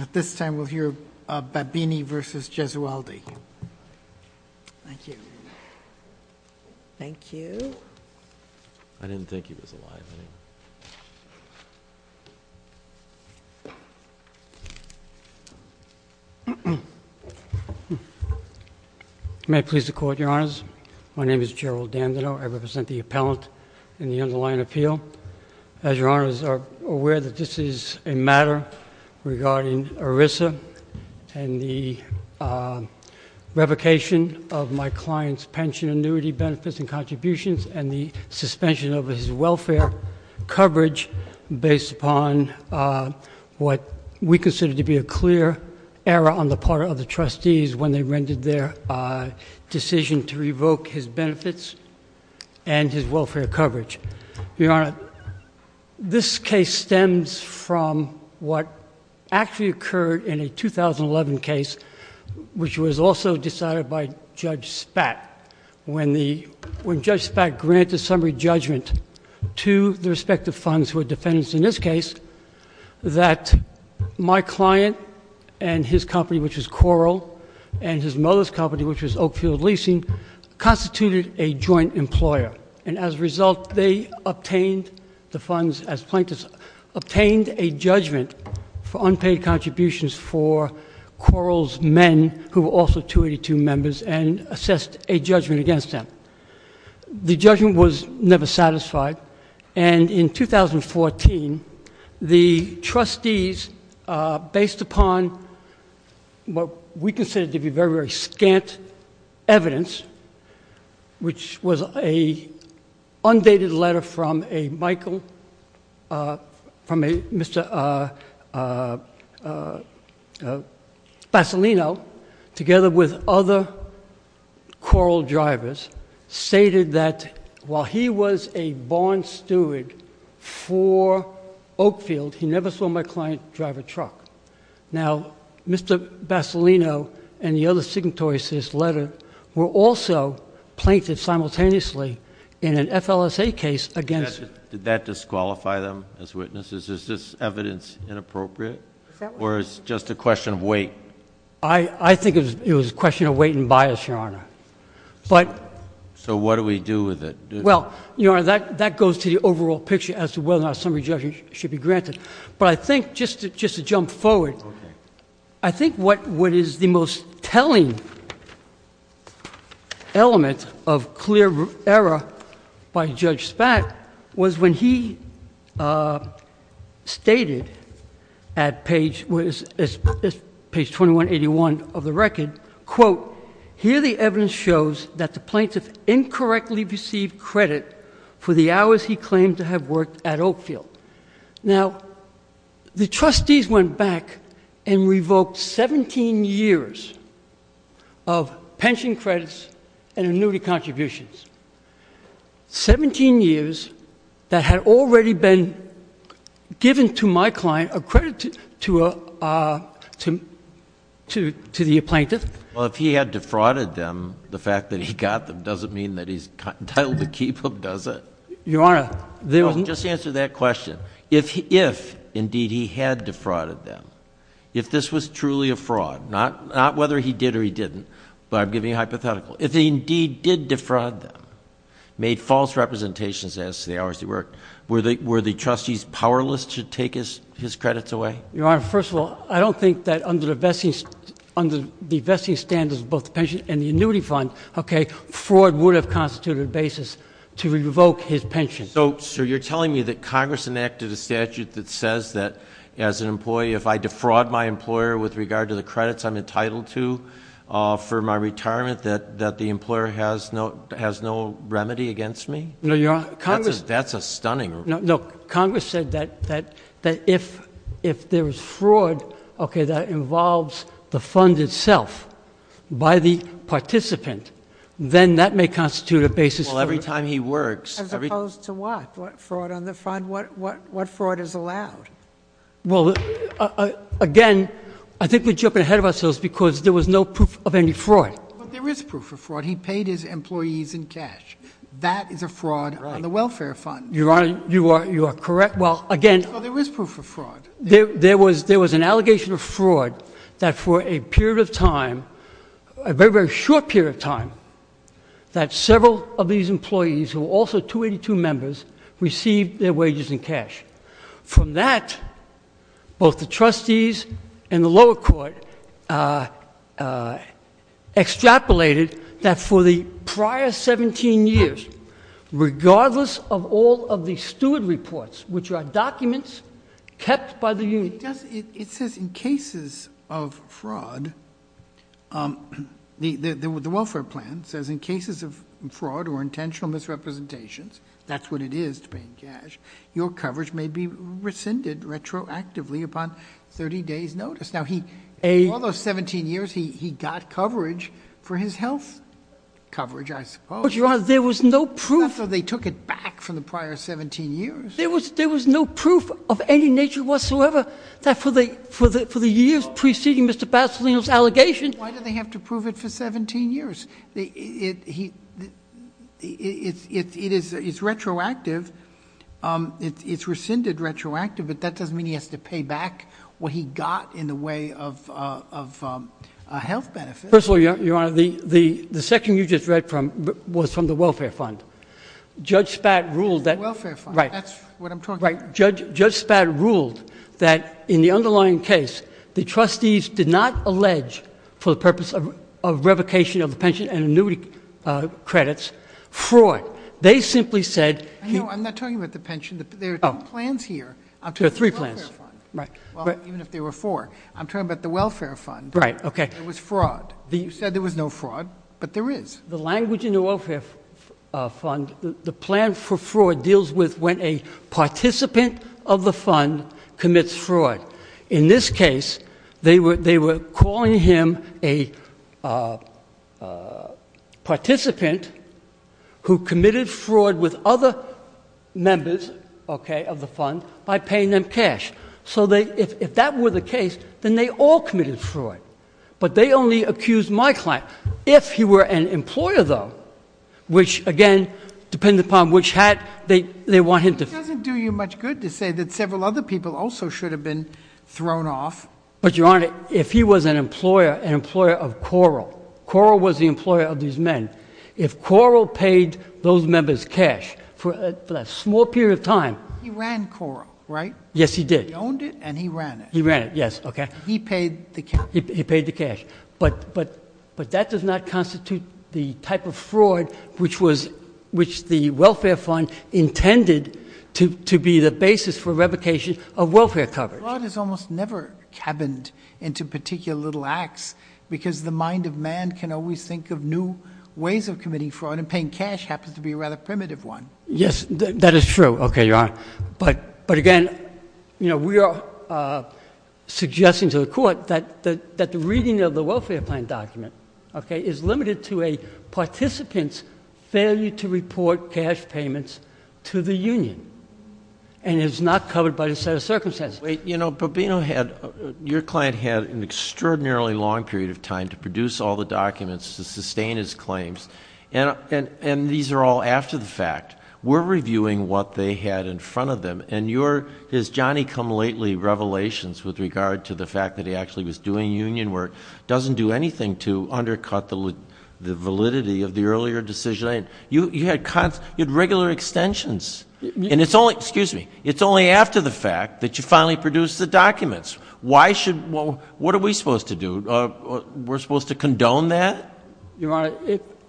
At this time we'll hear Babbini v. Gesualdi. Thank you. Thank you. I didn't think he was alive, did he? May I please the court, your honors? My name is Gerald Dandino. I represent the appellant in the underlying appeal. As your honors are aware that this is a regarding ERISA and the revocation of my client's pension annuity benefits and contributions and the suspension of his welfare coverage based upon what we consider to be a clear error on the part of the trustees when they rendered their decision to revoke his benefits and his welfare coverage. Your honor, this case stems from what actually occurred in a 2011 case which was also decided by Judge Spatt. When Judge Spatt granted summary judgment to the respective funds who were defendants in this case that my client and his company which was Coral and his mother's company which was Oakfield Leasing constituted a joint employer and as a result they obtained the funds as plaintiffs obtained a judgment for unpaid contributions for Coral's men who were also 282 members and assessed a judgment against them. The judgment was never satisfied and in 2014 the trustees based upon what we consider to be very very scant evidence which was a undated letter from a Michael from a Mr. Bassolino together with other Coral drivers stated that while he was a barn steward for Oakfield he never saw my client drive a truck. Now Mr. Bassolino and the other signatories to this letter were also plaintiffs simultaneously in an FLSA case against... Did that disqualify them as witnesses? Is this evidence inappropriate or it's just a question of weight? I think it was a question of weight and bias, your honor. But... So what do we do with it? Well, your honor, that goes to the overall picture as to whether or not summary judgment should be The most telling element of clear error by Judge Spak was when he stated at page was page 2181 of the record, quote, here the evidence shows that the plaintiff incorrectly received credit for the hours he claimed to have worked at Oakfield. Now the trustees went back and revoked 17 years of pension credits and annuity contributions. 17 years that had already been given to my client a credit to the plaintiff. Well, if he had defrauded them, the fact that he got them doesn't mean that he's entitled to keep them, does it? Your honor... Just answer that question. If indeed he had defrauded them, if this was truly a fraud, not whether he did or he didn't, but I'm giving you a hypothetical, if he indeed did defraud them, made false representations as to the hours he worked, were the trustees powerless to take his credits away? Your honor, first of all, I don't think that under the vesting standards of both the pension and the annuity fund, okay, fraud would have constituted a basis to revoke his pension. So you're telling me that Congress enacted a statute that says that as an employee, if I defraud my employer with regard to the credits I'm entitled to for my retirement, that the employer has no remedy against me? No, your honor, Congress... That's a stunning... No, look, Congress said that if there was fraud, okay, that involves the fund itself by the participant, then that may Well, again, I think we're jumping ahead of ourselves because there was no proof of any fraud. But there is proof of fraud. He paid his employees in cash. That is a fraud on the welfare fund. Your honor, you are correct. Well, again... But there is proof of fraud. There was an allegation of fraud that for a period of time, a very, very short period of time, that several of these employees who were also 282 members received their wages in cash. From that, both the trustees and the lower court extrapolated that for the prior 17 years, regardless of all of the steward reports, which are documents kept by the union... It says in cases of fraud, the welfare plan says in cases of fraud or intentional misrepresentations, that's what it is to pay in cash, your coverage may be rescinded retroactively upon 30 days' notice. Now, all those 17 years, he got coverage for his health coverage, I suppose. But, your honor, there was no proof... That's why they took it back from the prior 17 years. There was no proof of any nature whatsoever that for the years preceding Mr. Basilino's... It's retroactive. It's rescinded retroactively, but that doesn't mean he has to pay back what he got in the way of health benefits. First of all, your honor, the section you just read from was from the welfare fund. Judge Spad ruled that... The welfare fund. That's what I'm talking about. Right. Judge Spad ruled that in the underlying case, the trustees did not allege for the purpose of revocation of the pension and annuity credits, fraud. They simply said... I'm not talking about the pension. There are two plans here. I'm talking about the welfare fund. Even if there were four. I'm talking about the welfare fund. Right. Okay. It was fraud. You said there was no fraud, but there is. The language in the welfare fund, the plan for fraud deals with when a participant of him a participant who committed fraud with other members, okay, of the fund by paying them cash. So if that were the case, then they all committed fraud. But they only accused my client. If he were an employer, though, which, again, depended upon which hat they want him to... It doesn't do you much good to say that several other people also should have been thrown off. But, Your Honor, if he was an employer, an employer of Coral. Coral was the employer of these men. If Coral paid those members cash for a small period of time... He ran Coral, right? Yes, he did. He owned it, and he ran it. He ran it. Yes. Okay. He paid the cash. He paid the cash. But that does not constitute the type of fraud which the welfare fund intended to be the basis for revocation of welfare coverage. Fraud is almost never cabined into particular little acts, because the mind of man can always think of new ways of committing fraud, and paying cash happens to be a rather primitive one. Yes, that is true. Okay, Your Honor. But again, you know, we are suggesting to the Court that the reading of the welfare plan document, okay, is limited to a participant's failure to report cash payments to the union, and is not covered by the set of circumstances. You know, Bobbino had... your client had an extraordinarily long period of time to produce all the documents to sustain his claims, and these are all after the fact. We are reviewing what they had in front of them, and your... his Johnny-come-lately revelations with regard to the fact that he actually was doing union work doesn't do anything to undercut the validity of the earlier decision. You had regular extensions, and it's only... excuse me. It's only after the fact that you finally produced the documents. Why should... what are we supposed to do? We're supposed to condone that? Your Honor,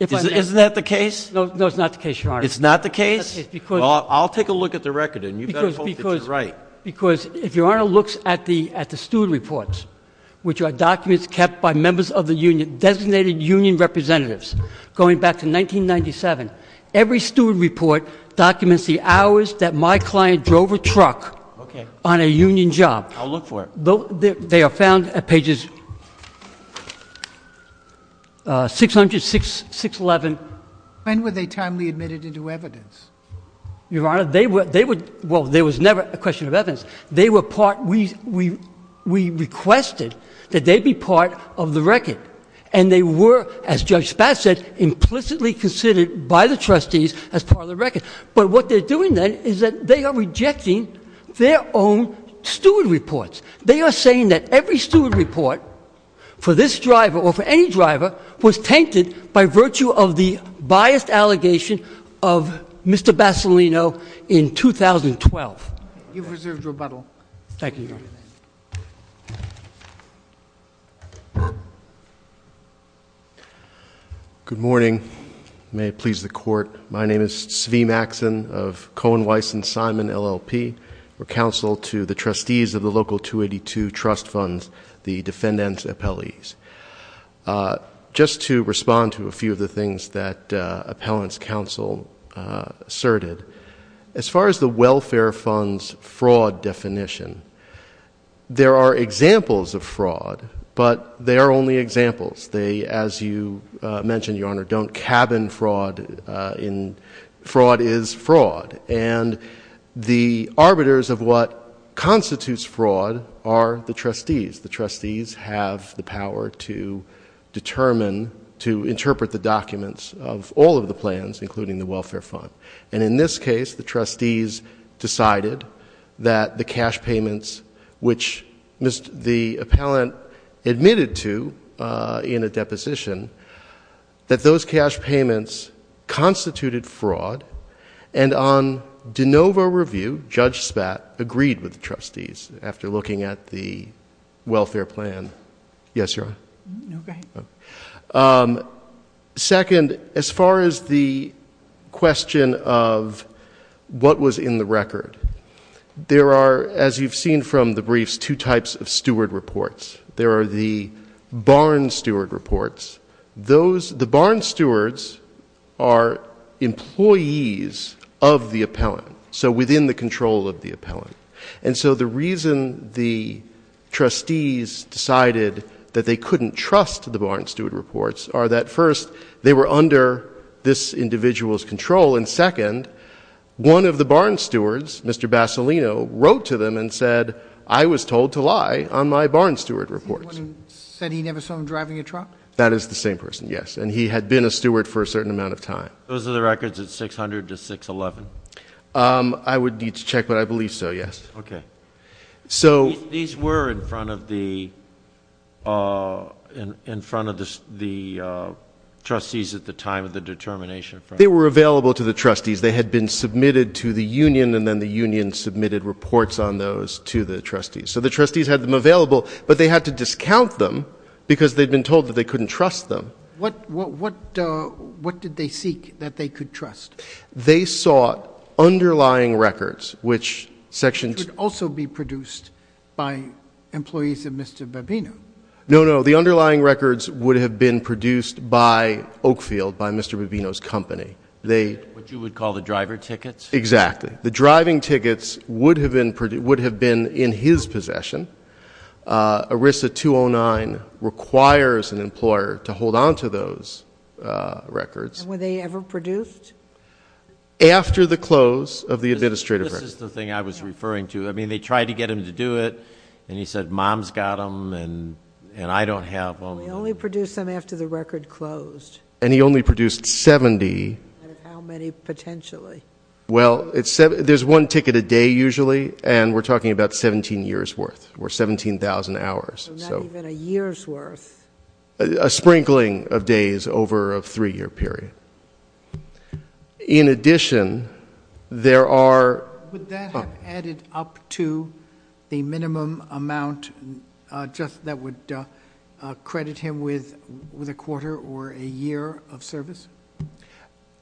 if I may... Isn't that the case? No, it's not the case, Your Honor. It's not the case? Because... Well, I'll take a look at the record, and you better hope that you're right. Because if Your Honor looks at the student reports, which are documents kept by members of the union, designated union representatives, going back to 1997, every student report documents the hours that my client drove a truck... Okay...... on a union job. I'll look for it. They are found at pages 600, 611. When were they timely admitted into evidence? Your Honor, they were... they were... well, there was never a question of evidence. They were part... we requested that they be part of the record. And they were, as Judge Spatz said, implicitly considered by the trustees as part of the record. But what they're doing then is that they are rejecting their own student reports. They are saying that every student report for this driver or for any driver was tainted by virtue of the biased allegation of Mr. Bassolino in 2012. You've reserved rebuttal. Thank you, Your Honor. Good morning. May it please the Court. My name is Svee Maxson of Cohen, Weiss & Simon LLP. We're counsel to the trustees of the local 282 Trust Funds, the defendant's appellees. Just to respond to a few of the things that appellant's counsel asserted, as far as the welfare fund's fraud definition, there are examples of fraud, but they are only examples. They, as you mentioned, Your Honor, don't cabin fraud in... fraud is fraud. And the trustees have the power to determine, to interpret the documents of all of the plans, including the welfare fund. And in this case, the trustees decided that the cash payments, which the appellant admitted to in a deposition, that those cash payments constituted fraud. And on de novo review, Judge Spat agreed with the trustees after looking at the welfare plan. Yes, Your Honor? No, go ahead. Second, as far as the question of what was in the record, there are, as you've seen from the briefs, two types of steward reports. There are the barn steward reports. The barn stewards are employees of the appellant, so within the control of the appellant. And so the reason the trustees decided that they couldn't trust the barn steward reports are that, first, they were under this individual's control, and second, one of the barn stewards, Mr. Bassolino, wrote to them and said, I was told to lie on my barn steward reports. That is the same person, yes. And he had been a steward for a certain amount of time. Those are the records at 600 to 611? I would need to check, but I believe so, yes. These were in front of the trustees at the time of the determination? They were available to the trustees. They had been submitted to the union, and then the union submitted reports on those to the trustees. So the trustees had them available, but they had to discount them because they'd been told that they couldn't trust them. What did they seek that they could trust? They sought underlying records, which sections Could also be produced by employees of Mr. Babino? No, no. The underlying records would have been produced by Oakfield, by Mr. Babino's company. What you would call the driver tickets? Exactly. The driving tickets would have been in his possession. ERISA 209 requires an employer to hold on to those records. And were they ever produced? After the close of the administrative record. This is the thing I was referring to. I mean, they tried to get him to do it, and he said, mom's got them, and I don't have them. Well, he only produced them after the record closed. And he only produced 70. Out of how many, potentially? Well, there's one ticket a day, usually, and we're talking about 17 years' worth, or 17,000 hours. So not even a year's worth. A sprinkling of days over a three-year period. In addition, there are Would that have added up to the minimum amount that would credit him with a quarter or a year of service?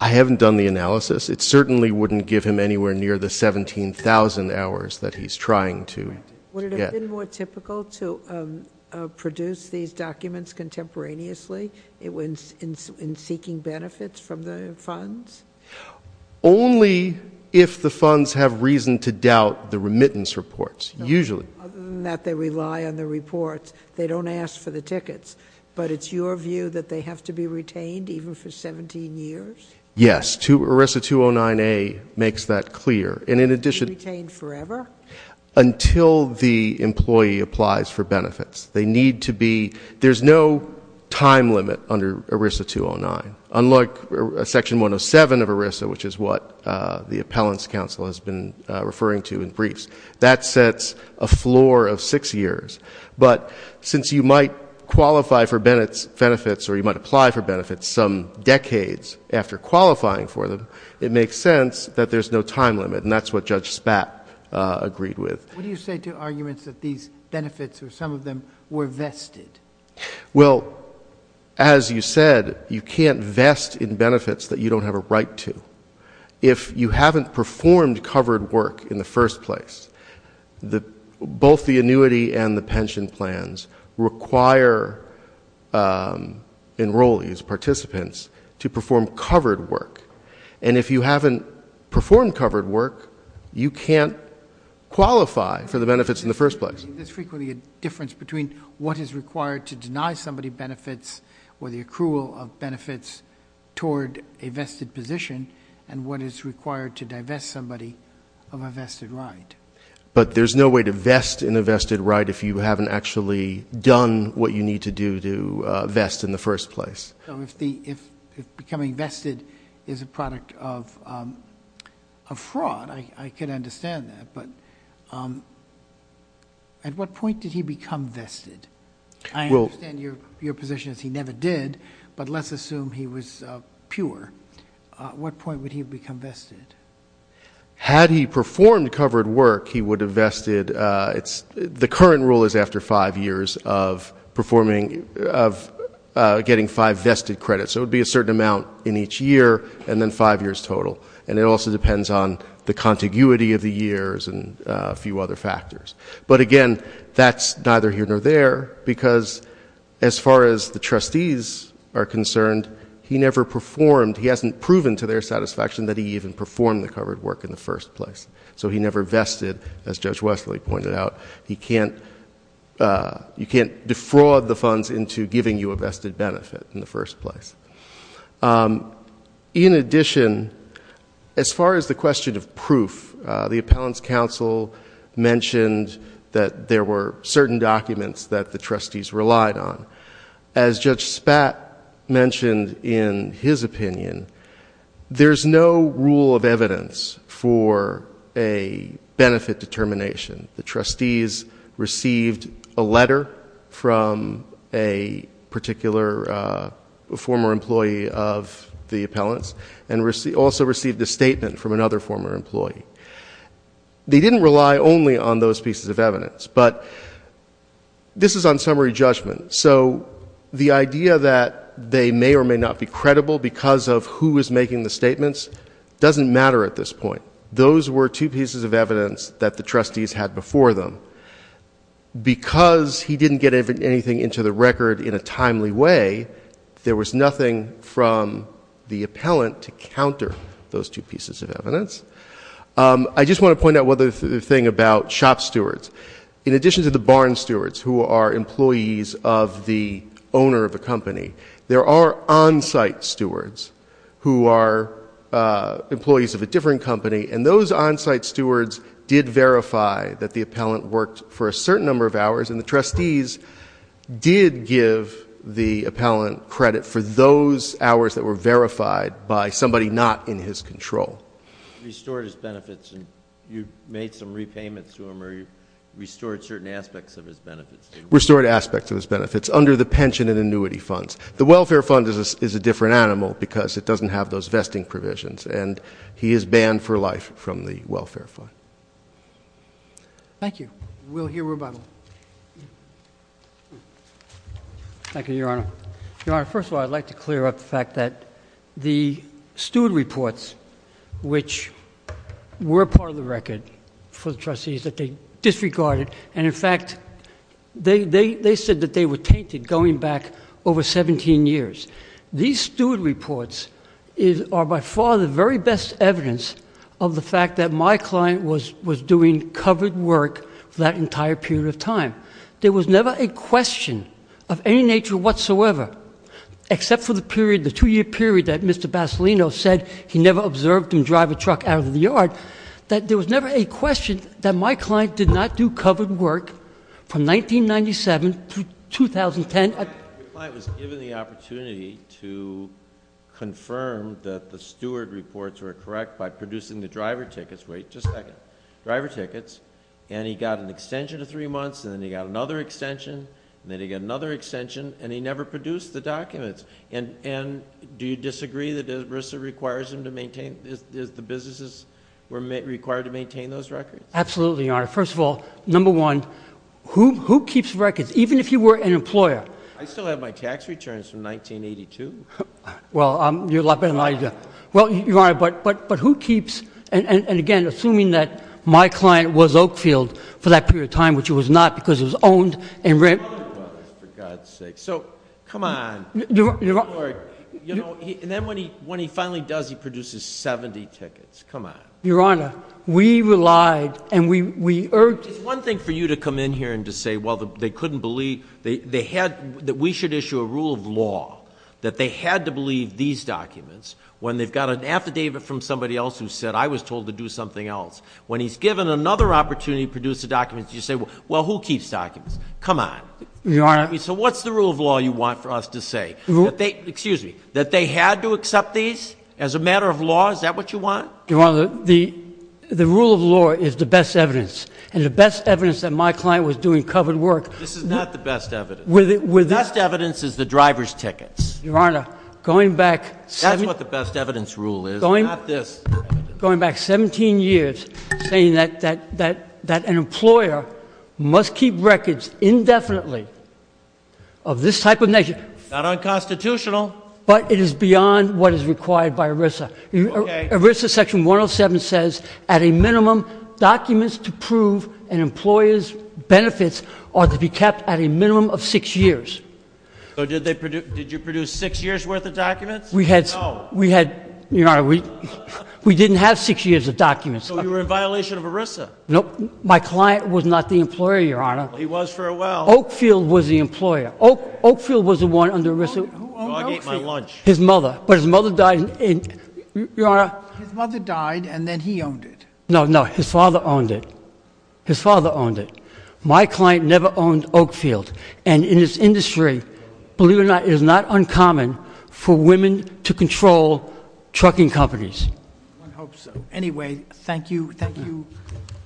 I haven't done the analysis. It certainly wouldn't give him anywhere near the 17,000 hours that he's trying to get. Would it have been more typical to produce these documents contemporaneously in seeking benefits from the funds? Only if the funds have reason to doubt the remittance reports, usually. Other than that they rely on the reports. They don't ask for the tickets. But it's your view that they have to be retained even for 17 years? Yes. ERISA 209A makes that clear. And in addition- Retained forever? Until the employee applies for benefits. They need to be, there's no time limit under ERISA 209. Unlike Section 107 of ERISA, which is what the Appellants Council has been referring to in briefs. That sets a floor of six years. But since you might qualify for benefits or you might apply for benefits some decades after qualifying for them, it makes sense that there's no time limit. And that's what Judge Spapp agreed with. What do you say to arguments that these benefits or some of them were vested? Well, as you said, you can't vest in benefits that you don't have a right to. If you haven't performed covered work in the first place, both the annuity and the pension plans require enrollees, participants, to perform covered work. And if you haven't performed covered work, you can't qualify for the benefits in the first place. There's frequently a difference between what is required to deny somebody benefits or the accrual of benefits toward a vested position and what is required to divest somebody of a vested right. But there's no way to vest in a vested right if you haven't actually done what you need to do to vest in the first place. If becoming vested is a product of fraud, I can understand that. But at what point did he become vested? I understand your position is he never did, but let's assume he was pure. At what point would he have become vested? Had he performed covered work, he would have vested. The current rule is after five years of getting five vested credits. So it would be a certain amount in each year and then five years total. And it also depends on the contiguity of the years and a few other factors. But, again, that's neither here nor there because as far as the trustees are concerned, he never performed. He hasn't proven to their satisfaction that he even performed the covered work in the first place. So he never vested. As Judge Wesley pointed out, you can't defraud the funds into giving you a vested benefit in the first place. In addition, as far as the question of proof, the Appellant's Counsel mentioned that there were certain documents that the trustees relied on. As Judge Spat mentioned in his opinion, there's no rule of evidence for a benefit determination. The trustees received a letter from a particular former employee of the Appellant's and also received a statement from another former employee. They didn't rely only on those pieces of evidence, but this is on summary judgment. So the idea that they may or may not be credible because of who was making the statements doesn't matter at this point. Those were two pieces of evidence that the trustees had before them. Because he didn't get anything into the record in a timely way, there was nothing from the Appellant to counter those two pieces of evidence. I just want to point out one other thing about shop stewards. In addition to the barn stewards who are employees of the owner of the company, there are on-site stewards who are employees of a different company. And those on-site stewards did verify that the Appellant worked for a certain number of hours. And the trustees did give the Appellant credit for those hours that were verified by somebody not in his control. The Appellant restored his benefits and you made some repayments to him or you restored certain aspects of his benefits? Restored aspects of his benefits under the pension and annuity funds. The welfare fund is a different animal because it doesn't have those vesting provisions and he is banned for life from the welfare fund. Thank you. We'll hear rebuttal. Thank you, Your Honor. Your Honor, first of all, I'd like to clear up the fact that the steward reports, which were part of the record for the trustees that they disregarded, and, in fact, they said that they were tainted going back over 17 years. These steward reports are by far the very best evidence of the fact that my client was doing covered work for that entire period of time. There was never a question of any nature whatsoever, except for the two-year period that Mr. Basilino said he never observed him drive a truck out of the yard, that there was never a question that my client did not do covered work from 1997 to 2010. Your client was given the opportunity to confirm that the steward reports were correct by producing the driver tickets. Wait just a second. He got another extension, and then he got another extension, and he never produced the documents. And do you disagree that ERISA requires them to maintain, that the businesses were required to maintain those records? Absolutely, Your Honor. First of all, number one, who keeps records, even if you were an employer? I still have my tax returns from 1982. Well, you're a lot better than I am. Well, Your Honor, but who keeps, and again, assuming that my client was Oakfield for that period of time, which it was not because it was owned and rented. So come on. And then when he finally does, he produces 70 tickets. Come on. Your Honor, we relied, and we urged. It's one thing for you to come in here and to say, well, they couldn't believe, that we should issue a rule of law, that they had to believe these documents, when they've got an affidavit from somebody else who said, I was told to do something else. When he's given another opportunity to produce the documents, you say, well, who keeps documents? Come on. Your Honor. So what's the rule of law you want for us to say? Excuse me. That they had to accept these as a matter of law? Is that what you want? Your Honor, the rule of law is the best evidence. And the best evidence that my client was doing covered work. This is not the best evidence. The best evidence is the driver's tickets. Your Honor, going back 17 years, saying that an employer must keep records indefinitely of this type of nature. Not unconstitutional. But it is beyond what is required by ERISA. ERISA section 107 says, at a minimum, documents to prove an employer's benefits are to be kept at a minimum of six years. So did you produce six years worth of documents? No. Your Honor, we didn't have six years of documents. So you were in violation of ERISA? No. My client was not the employer, Your Honor. He was for a while. Oakfield was the employer. Oakfield was the one under ERISA. Who owned Oakfield? Dog ate my lunch. His mother. But his mother died. Your Honor. His mother died and then he owned it. No, no. His father owned it. His father owned it. My client never owned Oakfield. And in this industry, believe it or not, it is not uncommon for women to control trucking companies. One hopes so. Anyway, thank you. Thank you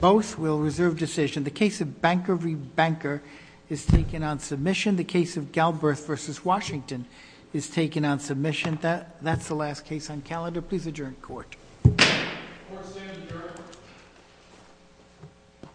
both. We'll reserve decision. The case of Banker v. Banker is taken on submission. The case of Galbraith v. Washington is taken on submission. That's the last case on calendar. Please adjourn court. Court is adjourned.